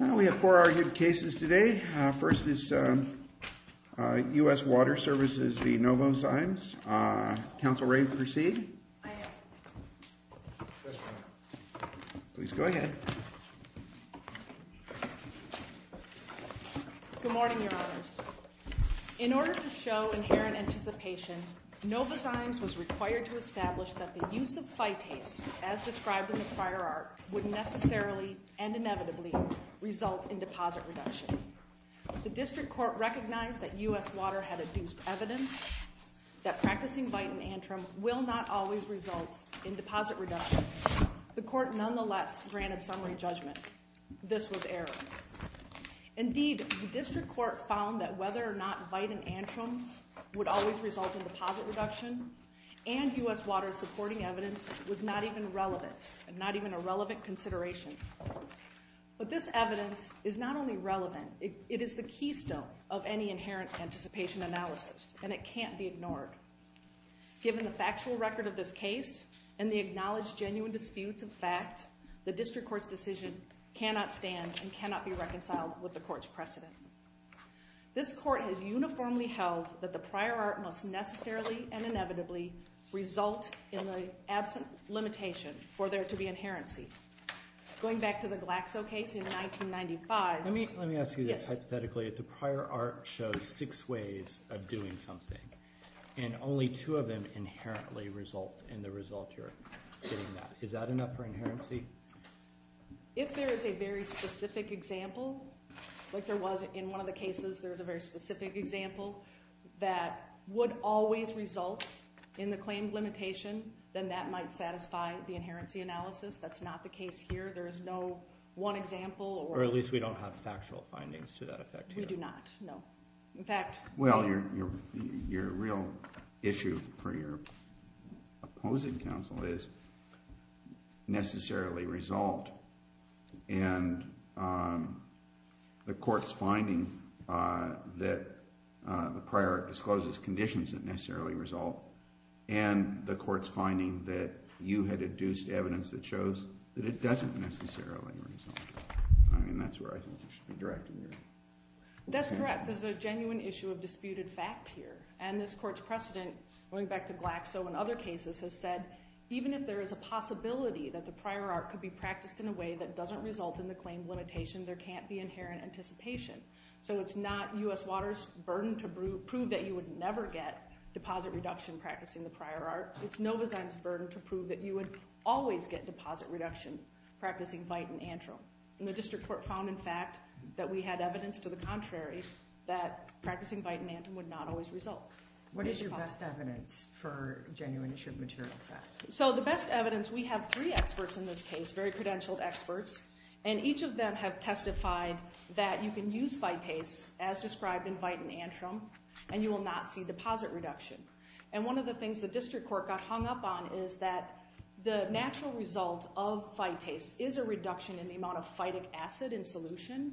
We have four argued cases today. First is U.S. Water Services v. Novozymes. Council Rae, you can proceed. Please go ahead. Good morning, Your Honors. In order to show inherent anticipation, Novozymes was required to establish that the use of phytase, as described in the fire arc, would necessarily, and inevitably, result in deposit reduction. The district court recognized that U.S. Water had adduced evidence that practicing vitin-antrum will not always result in deposit reduction. The court nonetheless granted summary judgment. This was error. Indeed, the district court found that whether or not vitin-antrum would always result in deposit reduction and U.S. Water's supporting evidence was not even relevant and not even a relevant consideration. But this evidence is not only relevant, it is the keystone of any inherent anticipation analysis, and it can't be ignored. Given the factual record of this case and the acknowledged genuine disputes of fact, the district court's decision cannot stand and cannot be reconciled with the court's precedent. This court has decided that the prior art must necessarily and inevitably result in the absent limitation for there to be inherency. Going back to the Glaxo case in 1995. Let me ask you this hypothetically. The prior art shows six ways of doing something, and only two of them inherently result in the result you're getting that. Is that enough for inherency? If there is a very specific example, like there was in one of the cases, there was a very specific example that would always result in the claimed limitation, then that might satisfy the inherency analysis. That's not the case here. There is no one example. Or at least we don't have factual findings to that effect here. We do not, no. In fact. Well, your real issue for your opposing counsel is necessarily result. And the court's finding that the prior art discloses conditions that necessarily result, and the court's finding that you had adduced evidence that shows that it doesn't necessarily result. I mean, that's where I think you should be directing here. That's correct. There's a genuine issue of disputed fact here. And this court's precedent, going back to Glaxo and other cases, has said, even if there is a possibility that the prior art could be practiced in a way that doesn't result in the claimed limitation, there can't be inherent anticipation. So it's not U.S. Waters' burden to prove that you would never get deposit reduction practicing the prior art. It's Novozyme's burden to prove that you would always get deposit reduction practicing bite and antrum. And the district court found, in fact, that we had evidence to the contrary that practicing bite and antrum would not always result. What is your best evidence for genuine issue of material fact? So the best evidence, we have three experts in this case, very credentialed experts. And each of them have testified that you can use phytase, as described in bite and antrum, and you will not see deposit reduction. And one of the things the district court got hung up on is that the natural result of phytase is a reduction in the amount of phytic acid in solution,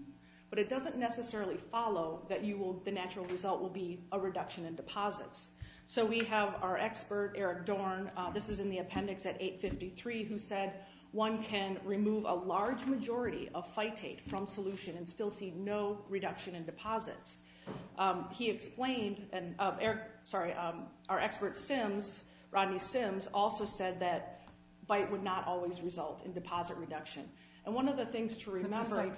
but it doesn't necessarily follow that the natural result will be a reduction in deposits. So we have our expert, Eric Dorn, this is in the appendix at 853, who said one can remove a large majority of phytate from solution and still see no reduction in deposits. He explained, sorry, our expert, Rodney Sims, also said that bite would not always result in deposit reduction. And one of the things to remember,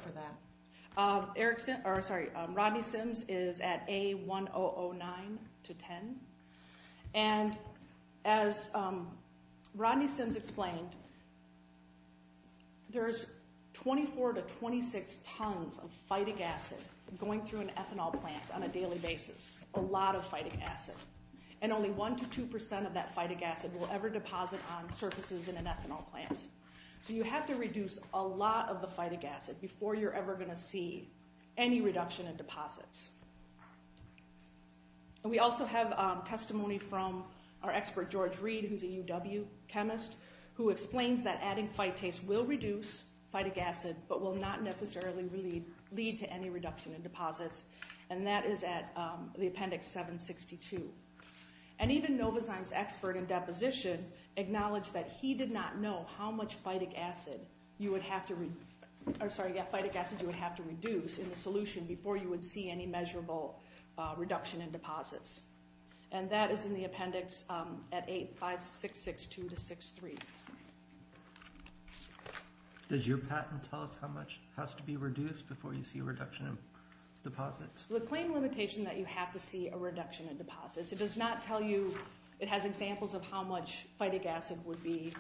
Rodney Sims is at A1009 to 10, and as Rodney Sims explained, there's 24 to 26 tons of phytic acid going through an ethanol plant on a daily basis, a lot of phytic acid. And only 1 to 2% of that phytic acid will ever deposit on surfaces in an ethanol plant. So you have to reduce a lot of the phytic acid before you're ever going to see any reduction in deposits. And we also have testimony from our expert, George Reed, who's a UW chemist, who explains that adding phytase will reduce phytic acid, but will not necessarily lead to any reduction in deposits, and that is at the appendix 762. And even Novazyme's expert in deposition acknowledged that he did not know how much phytic acid you would have to reduce in the solution before you would see any measurable reduction in deposits. And that is in the appendix at 85662 to 63. Does your patent tell us how much has to be reduced before you see reduction in deposits? The claim limitation that you have to see a reduction in deposits, it does not tell you, it has examples of how much phytic acid would be,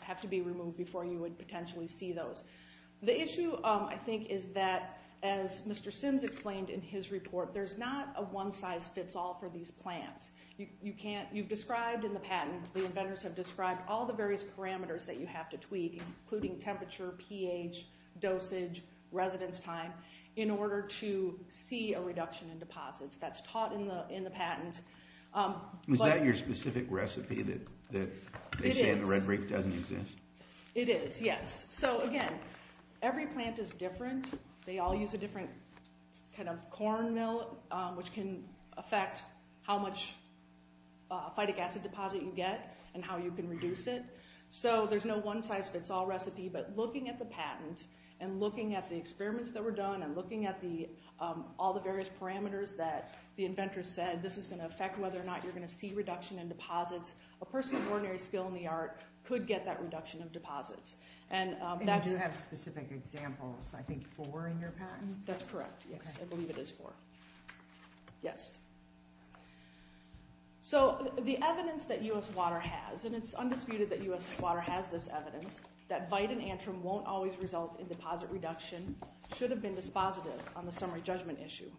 have to be removed before you would potentially see those. The issue, I think, is that, as Mr. Sims explained in his report, there's not a one-size-fits-all for these plants. You can't, you've described in the patent, the inventors have described all the various parameters that you have to tweak, including temperature, pH, dosage, residence time, in order to see a reduction in deposits. That's taught in the patent. Is that your specific recipe that they say in the red brief doesn't exist? It is, yes. So again, every plant is different. They all use a different kind of corn mill, which can affect how much phytic acid deposit you get and how you can get a one-size-fits-all recipe, but looking at the patent, and looking at the experiments that were done, and looking at all the various parameters that the inventors said, this is going to affect whether or not you're going to see reduction in deposits. A person of ordinary skill in the art could get that reduction of deposits. And that's... And you do have specific examples, I think, four in your patent? That's correct, yes. I believe it is four. Yes. So the evidence that US Water has, and it's undisputed that US Water has this evidence, that Vite and Antrim won't always result in deposit reduction should have been dispositive on the summary judgment issue.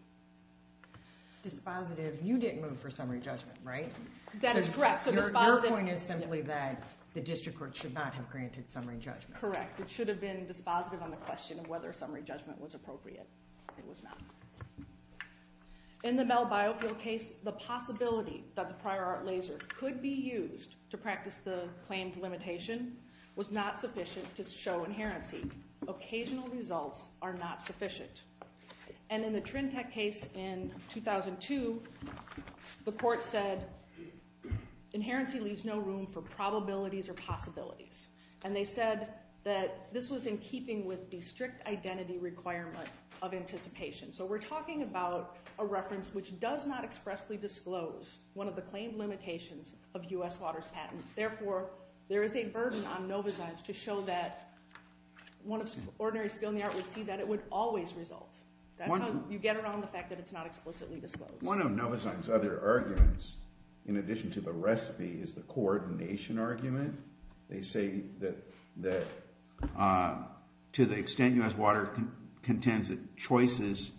Dispositive? You didn't move for summary judgment, right? That is correct. So dispositive... Your point is simply that the district court should not have granted summary judgment. Correct. It should have been dispositive on the question of whether summary judgment was appropriate. It was not. In the Bell Biofield case, the possibility that the prior art laser could be used to practice the claimed limitation was not sufficient to show inherency. Occasional results are not sufficient. And in the Trintec case in 2002, the court said, inherency leaves no room for probabilities or possibilities. And they said that this was in keeping with the strict identity requirement of anticipation. So we're talking about a reference which does not expressly disclose one of the claimed limitations of US Water's patent. Therefore, there is a burden on Novozymes to show that one of ordinary skill in the art would see that it would always result. That's how you get around the fact that it's not explicitly disclosed. One of Novozymes' other arguments, in addition to the recipe, is the coordination argument. They say that to the extent US Water contends that choices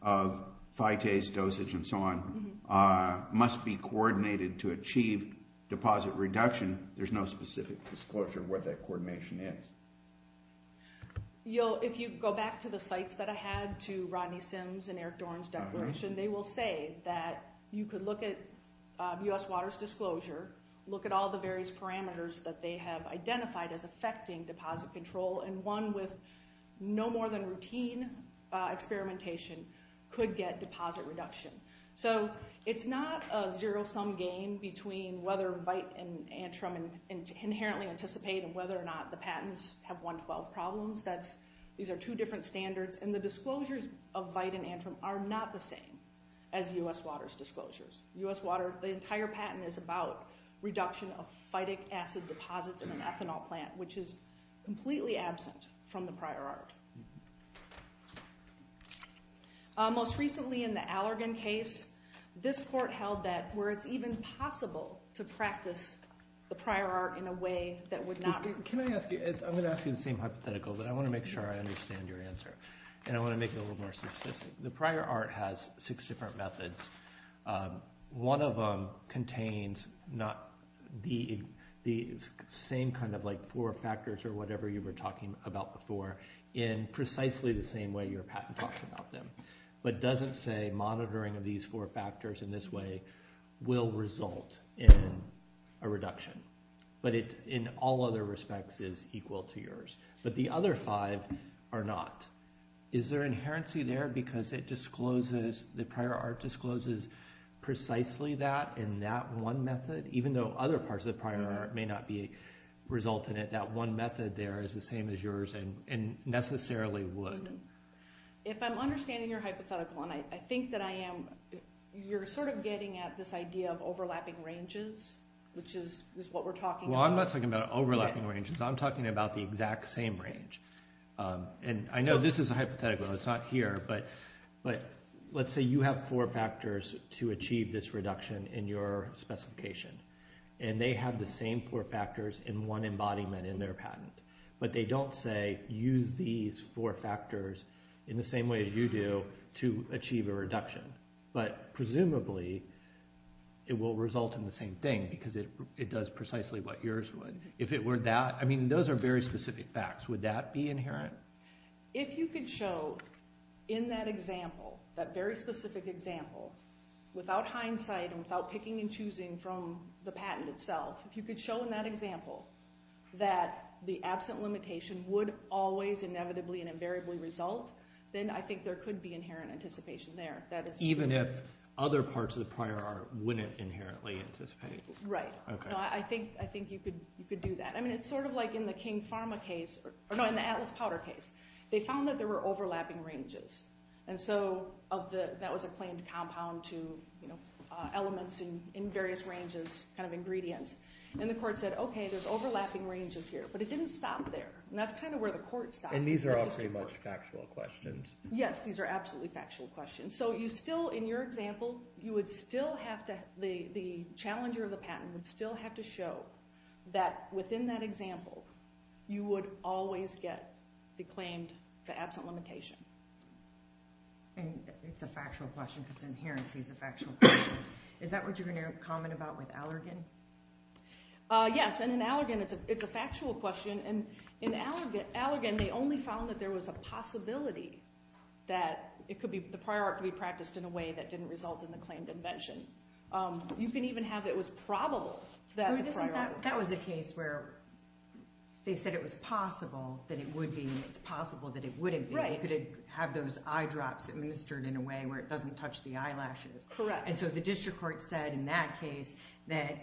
of Vite's dosage and so on are must be coordinated to achieve deposit reduction, there's no specific disclosure of what that coordination is. If you go back to the sites that I had, to Rodney Sims and Eric Dorn's declaration, they will say that you could look at US Water's disclosure, look at all the various parameters that they have identified as affecting deposit control, and one with no more than routine experimentation could get deposit reduction. So it's not a zero-sum game between whether Vite and Antrim inherently anticipate and whether or not the patents have 112 problems. These are two different standards, and the disclosures of Vite and Antrim are not the same as US Water's disclosures. The entire patent is about reduction of phytic acid deposits in an ethanol plant, which is completely absent from the prior art. Most recently in the Allergan case, this court held that, where it's even possible to practice the prior art in a way that would not— Can I ask you—I'm going to ask you the same hypothetical, but I want to make sure I understand your answer, and I want to make it a little more specific. The prior art has six different methods. One of them contains not the same kind of like four factors or whatever you were talking about before in precisely the same way your patent talks about them, but doesn't say monitoring of these four factors in this way will result in a reduction. But it, in all other respects, is equal to yours. But the other five are not. Is there inherency there because it discloses—the prior art discloses precisely that in that one method? Even though other parts of the prior art may not be—result in it, that one method there is the same as yours and necessarily would. If I'm understanding your hypothetical, and I think that I am, you're sort of getting at this idea of overlapping ranges, which is what we're talking about. Well, I'm not talking about overlapping ranges. I'm talking about the exact same range. And I know this is a hypothetical. It's not here, but let's say you have four factors to achieve this reduction in your specification, and they have the same four factors in one embodiment in their patent. But they don't say use these four factors in the same way as you do to achieve a reduction. But presumably, it will result in the same thing because it does precisely what yours would. If it were that—I mean, those are very specific facts. Would that be inherent? If you could show in that example, that very specific example, without hindsight and without the absent limitation, would always inevitably and invariably result, then I think there could be inherent anticipation there. Even if other parts of the prior art wouldn't inherently anticipate? Right. I think you could do that. I mean, it's sort of like in the King Pharma case—or no, in the Atlas Powder case. They found that there were overlapping ranges. And so that was a claimed compound to elements in various ranges, kind of ingredients. And the court said, OK, there's overlapping ranges here. But it didn't stop there. And that's kind of where the court stopped. And these are also very much factual questions. Yes, these are absolutely factual questions. So you still, in your example, you would still have to—the challenger of the patent would still have to show that within that example, you would always get the claimed absent limitation. And it's a factual question because inherency is a factual question. Is that what you're going to comment about with Allergan? Yes. And in Allergan, it's a factual question. And in Allergan, they only found that there was a possibility that the prior art could be practiced in a way that didn't result in the claimed invention. You can even have it was probable that the prior art— That was a case where they said it was possible that it would be—it's possible that it wouldn't be. You could have those eyedrops administered in a way where it doesn't touch the eyelashes. Correct. And so the district court said in that case that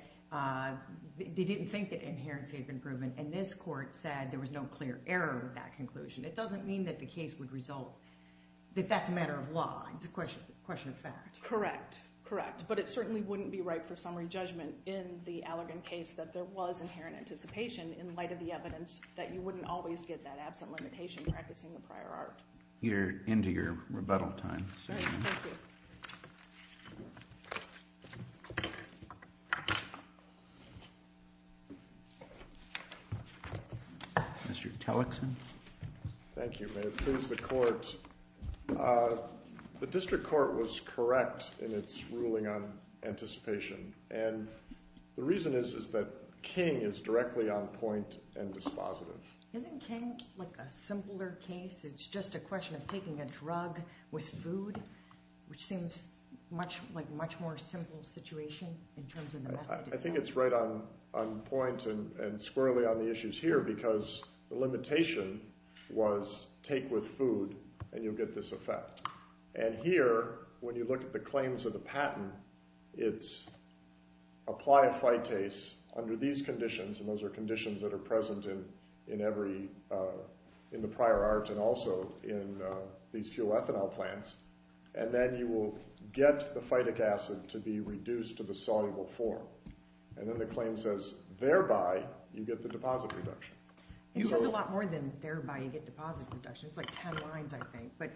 they didn't think that inherency had been proven. And this court said there was no clear error with that conclusion. It doesn't mean that the case would result—that that's a matter of law. It's a question of fact. Correct. Correct. But it certainly wouldn't be right for summary judgment in the Allergan case that there was inherent anticipation in light of the evidence that you wouldn't always get that absent limitation practicing the prior art. You're into your rebuttal time. Thank you. Mr. Tellickson. Thank you. May it please the court. The district court was correct in its ruling on anticipation. And the reason is that King is directly on point and dispositive. Isn't King like a simpler case? It's just a question of taking a drug with food, which seems like a much more simple situation in terms of the— I think it's right on point and squarely on the issues here because the limitation was take with food and you'll get this effect. And here, when you look at the claims of the patent, it's apply a phytase under these conditions, and those are conditions that have been in every—in the prior art and also in these fuel ethanol plants. And then you will get the phytic acid to be reduced to the soluble form. And then the claim says thereby you get the deposit reduction. It says a lot more than thereby you get deposit reduction. It's like ten lines, I think. But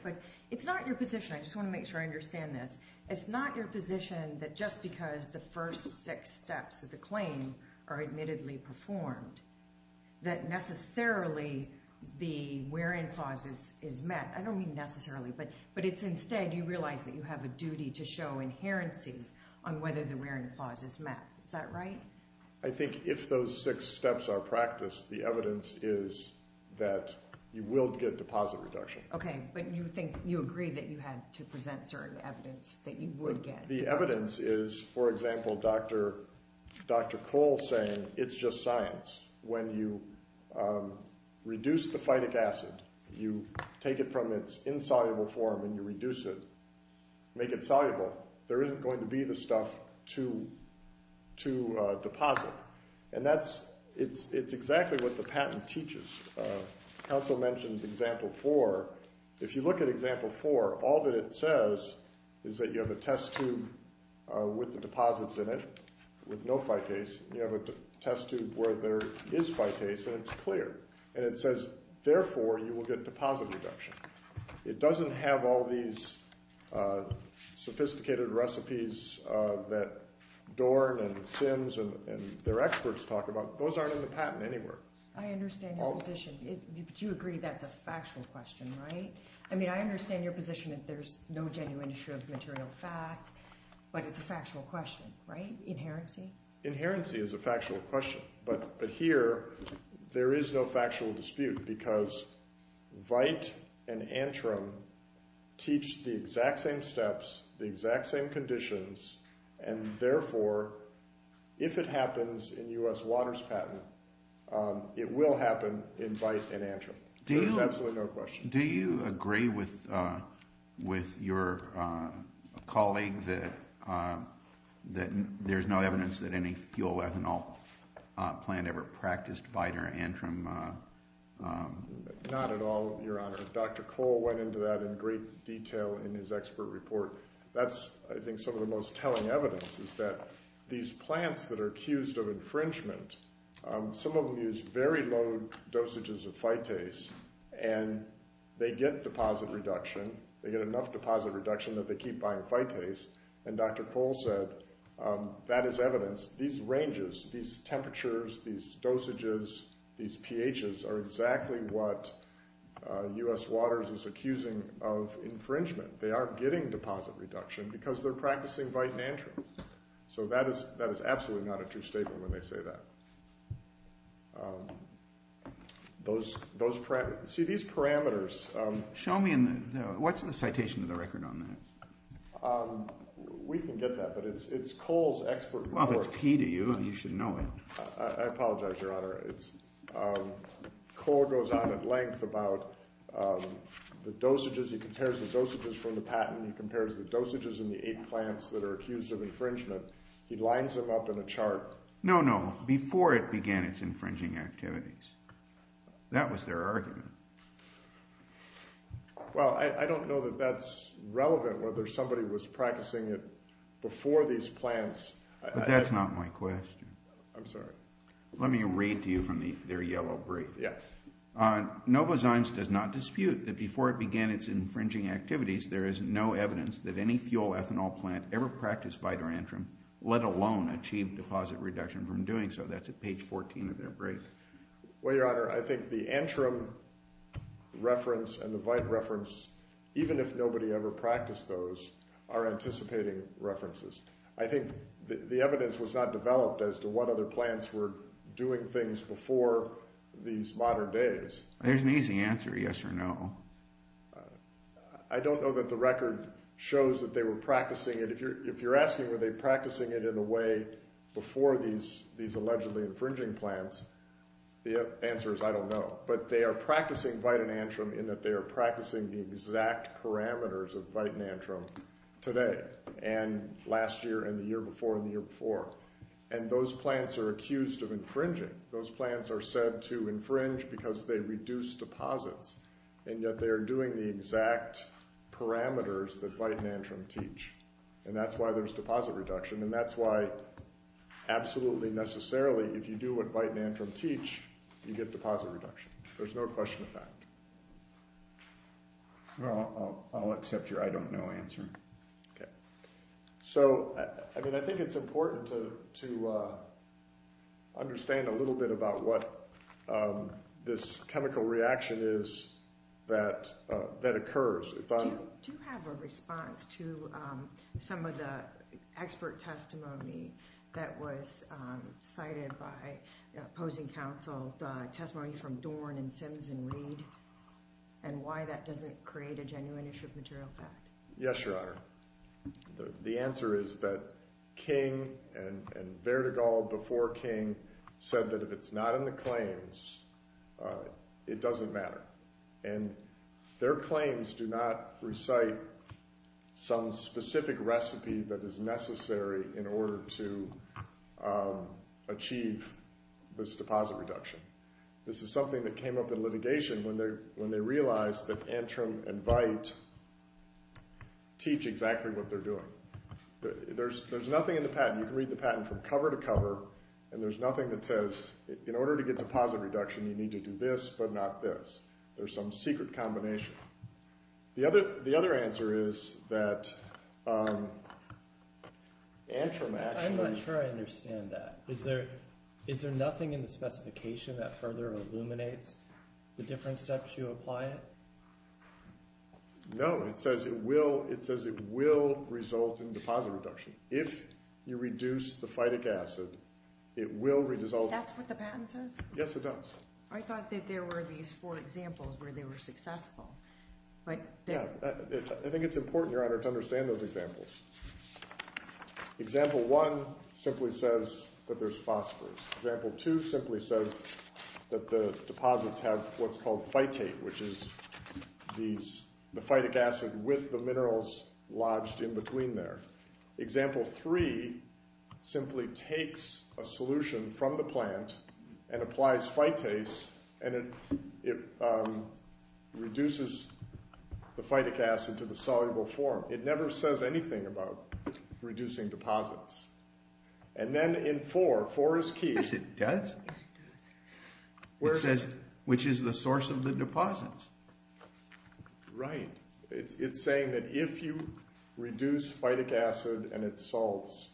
it's not your position—I just want to make sure I understand this—it's not your position that just because the first six steps of the claim are admittedly performed that necessarily the where-in clause is met. I don't mean necessarily, but it's instead you realize that you have a duty to show inherency on whether the where-in clause is met. Is that right? I think if those six steps are practiced, the evidence is that you will get deposit reduction. Okay, but you think—you agree that you had to present certain evidence that you would get. The evidence is, for example, Dr. Cole saying it's just science. When you reduce the phytic acid, you take it from its insoluble form and you reduce it, make it soluble, there isn't going to be the stuff to deposit. And that's—it's exactly what the patent teaches. Council mentioned example four. If you look at example four, all that it says is that you have a test tube with the deposits in it with no phytase, you have a test tube where there is phytase, and it's clear. And it says, therefore, you will get deposit reduction. It doesn't have all these sophisticated recipes that Dorn and Sims and their experts talk about. Those aren't in the patent anywhere. I understand your position. Do you agree that's a factual question, right? I mean, I understand your position that there's no genuine issue of material fact, but it's a factual question, right? Inherency? Inherency is a factual question, but here there is no factual dispute because VITE and Antrim teach the exact same steps, the exact same conditions, and therefore, if it happens in U.S. Waters patent, it will happen in VITE and Antrim. There's absolutely no question. Do you agree with your colleague that there's no evidence that any fuel ethanol plant ever practiced VITE or Antrim? Not at all, Your Honor. Dr. Cole went into that in great detail in his expert report. That's, I think, some of the most telling evidence is that these plants that are accused of infringement, some of them use very low dosages of phytase, and they get deposit reduction. They get enough deposit reduction that they keep buying phytase, and Dr. Cole said that is evidence. These ranges, these temperatures, these dosages, these pHs are exactly what U.S. Waters is accusing of infringement. They aren't getting deposit reduction because they're practicing VITE and Antrim. So that is absolutely not a true statement when they say that. See, these parameters— Show me what's in the citation of the record on that. We can get that, but it's Cole's expert report. Well, if it's key to you, you should know it. I apologize, Your Honor. Cole goes on at length about the dosages. He compares the dosages from the patent. He compares the dosages in the eight plants that are accused of infringement. He lines them up in a chart. No, no, before it began its infringing activities. That was their argument. Well, I don't know that that's relevant, whether somebody was practicing it before these plants. But that's not my question. I'm sorry. Let me read to you from their yellow brief. Yes. Novozymes does not dispute that before it began its infringing activities, there is no evidence that any fuel ethanol plant ever practiced VITE or Antrim, let alone achieve deposit reduction from doing so. That's at page 14 of their brief. Well, Your Honor, I think the Antrim reference and the VITE reference, even if nobody ever practiced those, are anticipating references. I think the evidence was not developed as to what other plants were doing things before these modern days. There's an easy answer, yes or no. I don't know that the record shows that they were practicing it. If you're asking were they practicing it in a way before these allegedly infringing plants, the answer is I don't know. But they are practicing VITE and Antrim in that they are practicing the exact parameters of VITE and Antrim today. And last year and the year before and the year before. And those plants are accused of infringing. Those plants are said to infringe because they reduce deposits. And yet they are doing the exact parameters that VITE and Antrim teach. And that's why there's deposit reduction. And that's why absolutely necessarily if you do what VITE and Antrim teach, you get deposit reduction. There's no question of that. Well, I'll accept your I don't know answer. Okay. So, I mean, I think it's important to understand a little bit about what this chemical reaction is that occurs. Do you have a response to some of the expert testimony that was cited by opposing counsel, the testimony from Dorn and Sims and Reed, and why that doesn't create a genuine issue of material fact? Yes, Your Honor. The answer is that King and Berdegall before King said that if it's not in the claims, it doesn't matter. And their claims do not recite some specific recipe that is necessary in order to achieve this deposit reduction. This is something that came up in litigation when they realized that Antrim and VITE teach exactly what they're doing. There's nothing in the patent. You can read the patent from cover to cover, and there's nothing that says in order to get deposit reduction, you need to do this but not this. There's some secret combination. The other answer is that Antrim actually— I'm not sure I understand that. Is there nothing in the specification that further illuminates the different steps you apply it? No. It says it will result in deposit reduction. If you reduce the phytic acid, it will result in— That's what the patent says? Yes, it does. I thought that there were these four examples where they were successful. Yeah, I think it's important, Your Honor, to understand those examples. Example one simply says that there's phosphorus. Example two simply says that the deposits have what's called phytate, which is the phytic acid with the minerals lodged in between there. Example three simply takes a solution from the plant and applies phytase, and it reduces the phytic acid to the soluble form. It never says anything about reducing deposits. And then in four—four is key. Yes, it does. It says which is the source of the deposits. Right. It's saying that if you reduce phytic acid and its salts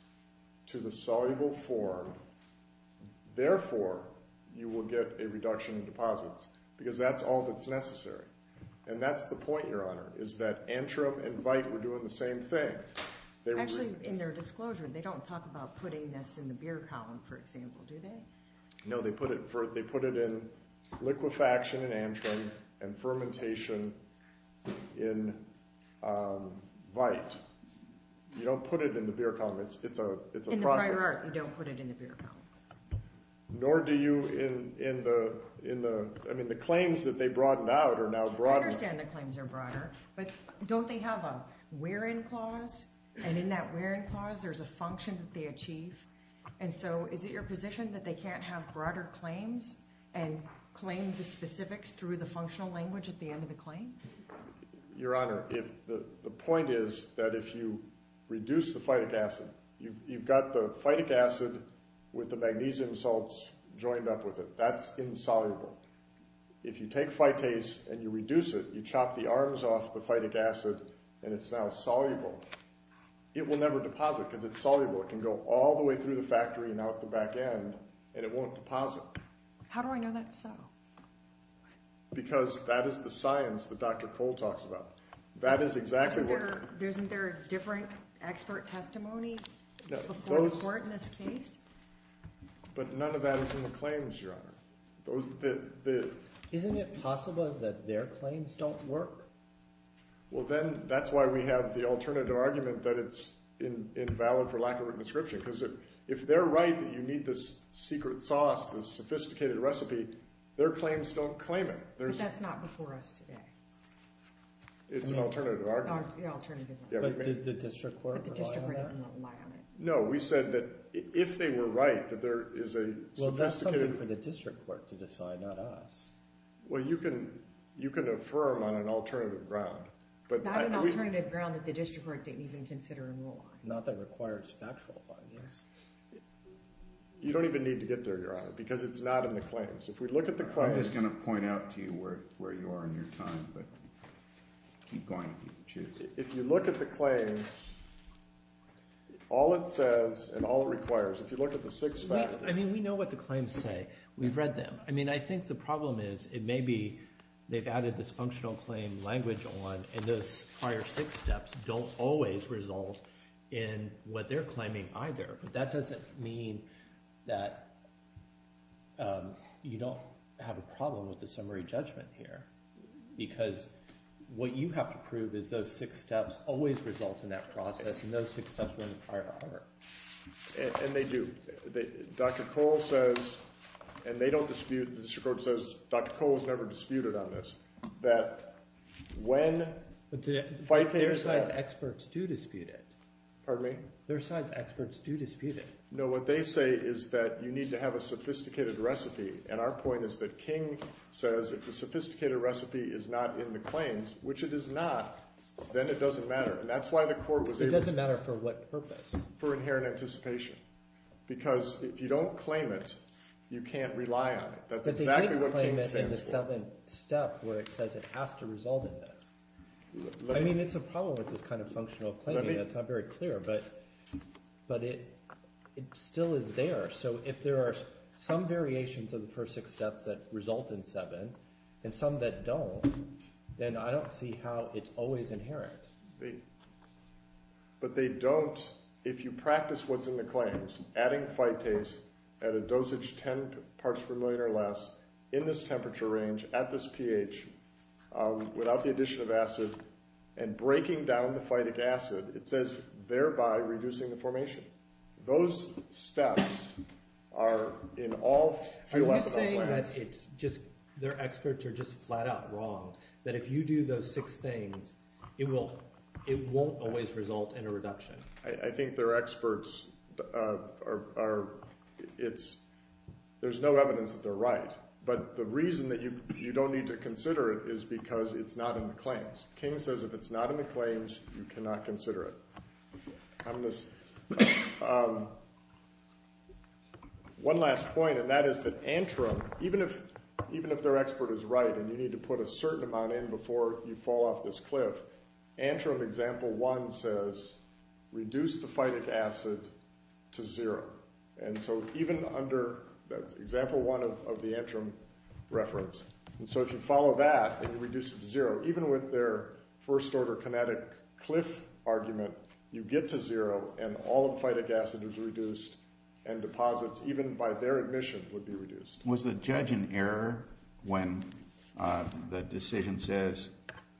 to the soluble form, therefore you will get a reduction in deposits because that's all that's necessary. And that's the point, Your Honor, is that antrum and vite were doing the same thing. Actually, in their disclosure, they don't talk about putting this in the beer column, for example, do they? No, they put it in liquefaction in antrum and fermentation in vite. You don't put it in the beer column. It's a process. In the prior art, you don't put it in the beer column. Nor do you in the—I mean, the claims that they broadened out are now broader. I understand the claims are broader, but don't they have a where-in clause? And in that where-in clause, there's a function that they achieve. And so is it your position that they can't have broader claims and claim the specifics through the functional language at the end of the claim? Your Honor, the point is that if you reduce the phytic acid, you've got the phytic acid with the magnesium salts joined up with it. That's insoluble. If you take phytase and you reduce it, you chop the arms off the phytic acid, and it's now soluble. It will never deposit because it's soluble. It can go all the way through the factory and out the back end, and it won't deposit. How do I know that's so? Because that is the science that Dr. Cole talks about. That is exactly what— Isn't there a different expert testimony before the court in this case? But none of that is in the claims, Your Honor. Isn't it possible that their claims don't work? Well, then that's why we have the alternative argument that it's invalid for lack of a written description because if they're right that you need this secret sauce, this sophisticated recipe, their claims don't claim it. But that's not before us today. It's an alternative argument. The alternative argument. But did the district court rely on it? But the district court did not rely on it. No, we said that if they were right that there is a sophisticated— Well, that's something for the district court to decide, not us. Well, you can affirm on an alternative ground. Not an alternative ground that the district court didn't even consider at all. Not that it requires factual findings. You don't even need to get there, Your Honor, because it's not in the claims. If we look at the claims— I'm just going to point out to you where you are in your time, but keep going if you choose. If you look at the claims, all it says and all it requires, if you look at the six facts— I mean we know what the claims say. We've read them. I mean I think the problem is it may be they've added this functional claim language on, and those prior six steps don't always result in what they're claiming either. But that doesn't mean that you don't have a problem with the summary judgment here because what you have to prove is those six steps always result in that process, and those six steps were in the prior order. And they do. Dr. Cole says, and they don't dispute—the district court says Dr. Cole has never disputed on this, that when— Their science experts do dispute it. Pardon me? Their science experts do dispute it. No, what they say is that you need to have a sophisticated recipe, and our point is that King says if the sophisticated recipe is not in the claims, which it is not, then it doesn't matter, and that's why the court was able to— It doesn't matter for what purpose? For inherent anticipation because if you don't claim it, you can't rely on it. That's exactly what King stands for. But they didn't claim it in the seventh step where it says it has to result in this. I mean it's a problem with this kind of functional claiming. It's not very clear, but it still is there. So if there are some variations of the first six steps that result in seven and some that don't, then I don't see how it's always inherent. But they don't—if you practice what's in the claims, adding phytase at a dosage 10 parts per million or less in this temperature range at this pH without the addition of acid and breaking down the phytic acid, it says thereby reducing the formation. Those steps are in all 3-lecithin plants. Are you saying that it's just—their experts are just flat out wrong, that if you do those six things, it won't always result in a reduction? I think their experts are—it's—there's no evidence that they're right. But the reason that you don't need to consider it is because it's not in the claims. King says if it's not in the claims, you cannot consider it. One last point, and that is that Antrim, even if their expert is right and you need to put a certain amount in before you fall off this cliff, Antrim example 1 says reduce the phytic acid to zero. And so even under—that's example 1 of the Antrim reference. And so if you follow that and you reduce it to zero, even with their first-order kinetic cliff argument, you get to zero and all of the phytic acid is reduced and deposits, even by their admission, would be reduced. Was the judge in error when the decision says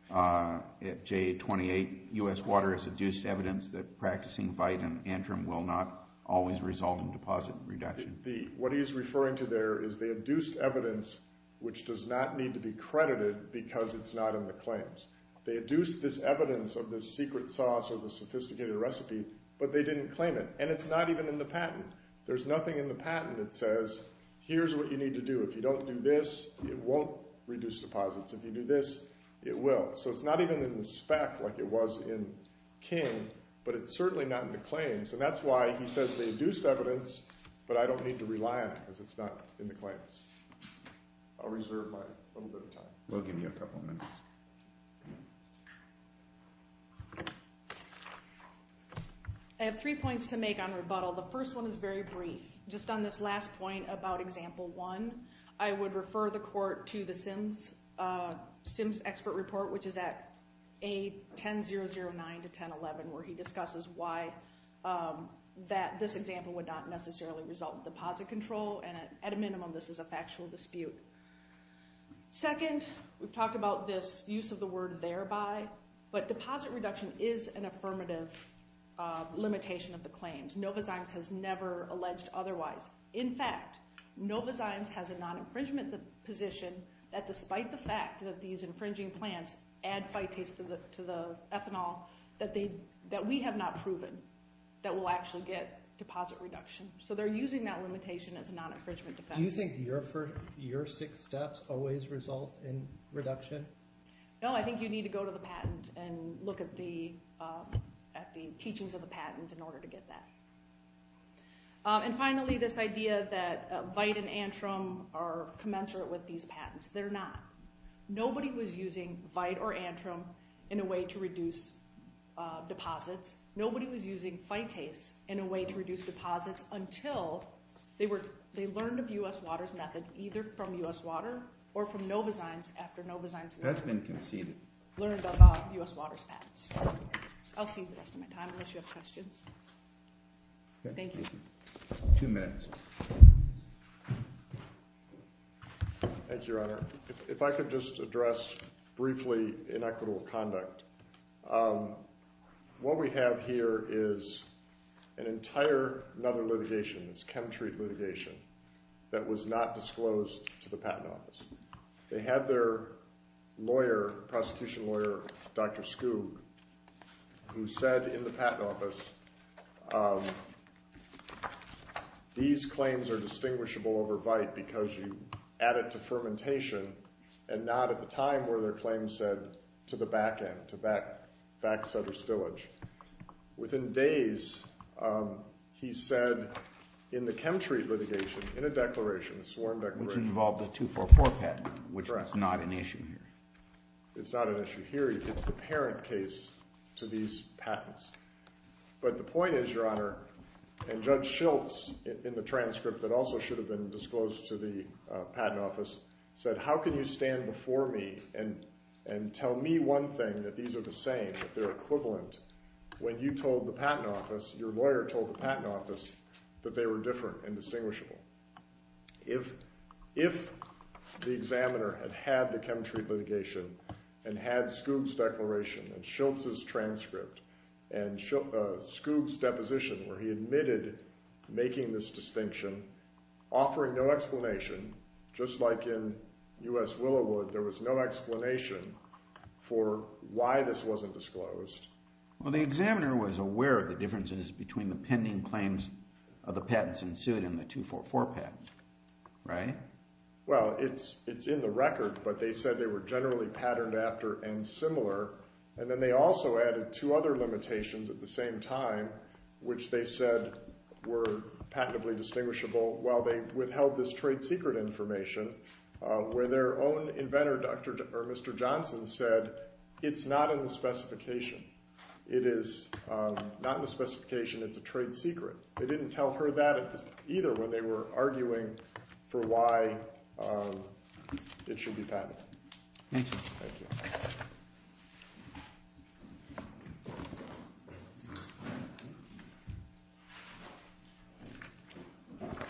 at J28, U.S. Water has adduced evidence that practicing VITE and Antrim will not always result in deposit reduction? What he is referring to there is they adduced evidence which does not need to be credited because it's not in the claims. They adduced this evidence of this secret sauce or this sophisticated recipe, but they didn't claim it. And it's not even in the patent. There's nothing in the patent that says here's what you need to do. If you don't do this, it won't reduce deposits. If you do this, it will. So it's not even in the spec like it was in King, but it's certainly not in the claims. And that's why he says they adduced evidence, but I don't need to rely on it because it's not in the claims. I'll reserve my little bit of time. We'll give you a couple of minutes. I have three points to make on rebuttal. The first one is very brief. Just on this last point about example one, I would refer the court to the SIMS expert report, which is at A1009-1011, where he discusses why this example would not necessarily result in deposit control, and at a minimum this is a factual dispute. Second, we've talked about this use of the word thereby, but deposit reduction is an affirmative limitation of the claims. Nova Zymes has never alleged otherwise. In fact, Nova Zymes has a non-infringement position that despite the fact that these infringing plants add phytase to the ethanol, that we have not proven that we'll actually get deposit reduction. So they're using that limitation as a non-infringement defense. Do you think your six steps always result in reduction? No, I think you need to go to the patent and look at the teachings of the patent in order to get that. And finally, this idea that Vite and Antrim are commensurate with these patents. They're not. Nobody was using Vite or Antrim in a way to reduce deposits. Nobody was using phytase in a way to reduce deposits until they learned of U.S. Water's method, either from U.S. Water or from Nova Zymes after Nova Zymes learned about it. I'll save the rest of my time unless you have questions. Thank you. Two minutes. Thank you, Your Honor. If I could just address briefly inequitable conduct. What we have here is an entire another litigation, this Chemtreat litigation, that was not disclosed to the patent office. They had their lawyer, prosecution lawyer, Dr. Skoug, who said in the patent office, these claims are distinguishable over Vite because you add it to fermentation and not at the time where their claim said to the back end, to back setter stillage. Within days, he said in the Chemtreat litigation, in a declaration, a sworn declaration. Which involved the 244 patent, which is not an issue here. It's not an issue here. It's the parent case to these patents. But the point is, Your Honor, and Judge Schiltz in the transcript that also should have been disclosed to the patent office said, how can you stand before me and tell me one thing that these are the same, that they're equivalent when you told the patent office, your lawyer told the patent office that they were different and distinguishable? If the examiner had had the Chemtreat litigation and had Skoug's declaration and Schiltz's transcript and Skoug's deposition where he admitted making this distinction, offering no explanation, just like in U.S. Willowood, there was no explanation for why this wasn't disclosed. Well, the examiner was aware of the differences between the pending claims of the patents in suit and the 244 patent, right? Well, it's in the record, but they said they were generally patterned after and similar. And then they also added two other limitations at the same time, which they said were patently distinguishable while they withheld this trade secret information, where their own inventor, Mr. Johnson, said it's not in the specification. It is not in the specification. It's a trade secret. They didn't tell her that either when they were arguing for why it should be patented. Thank you.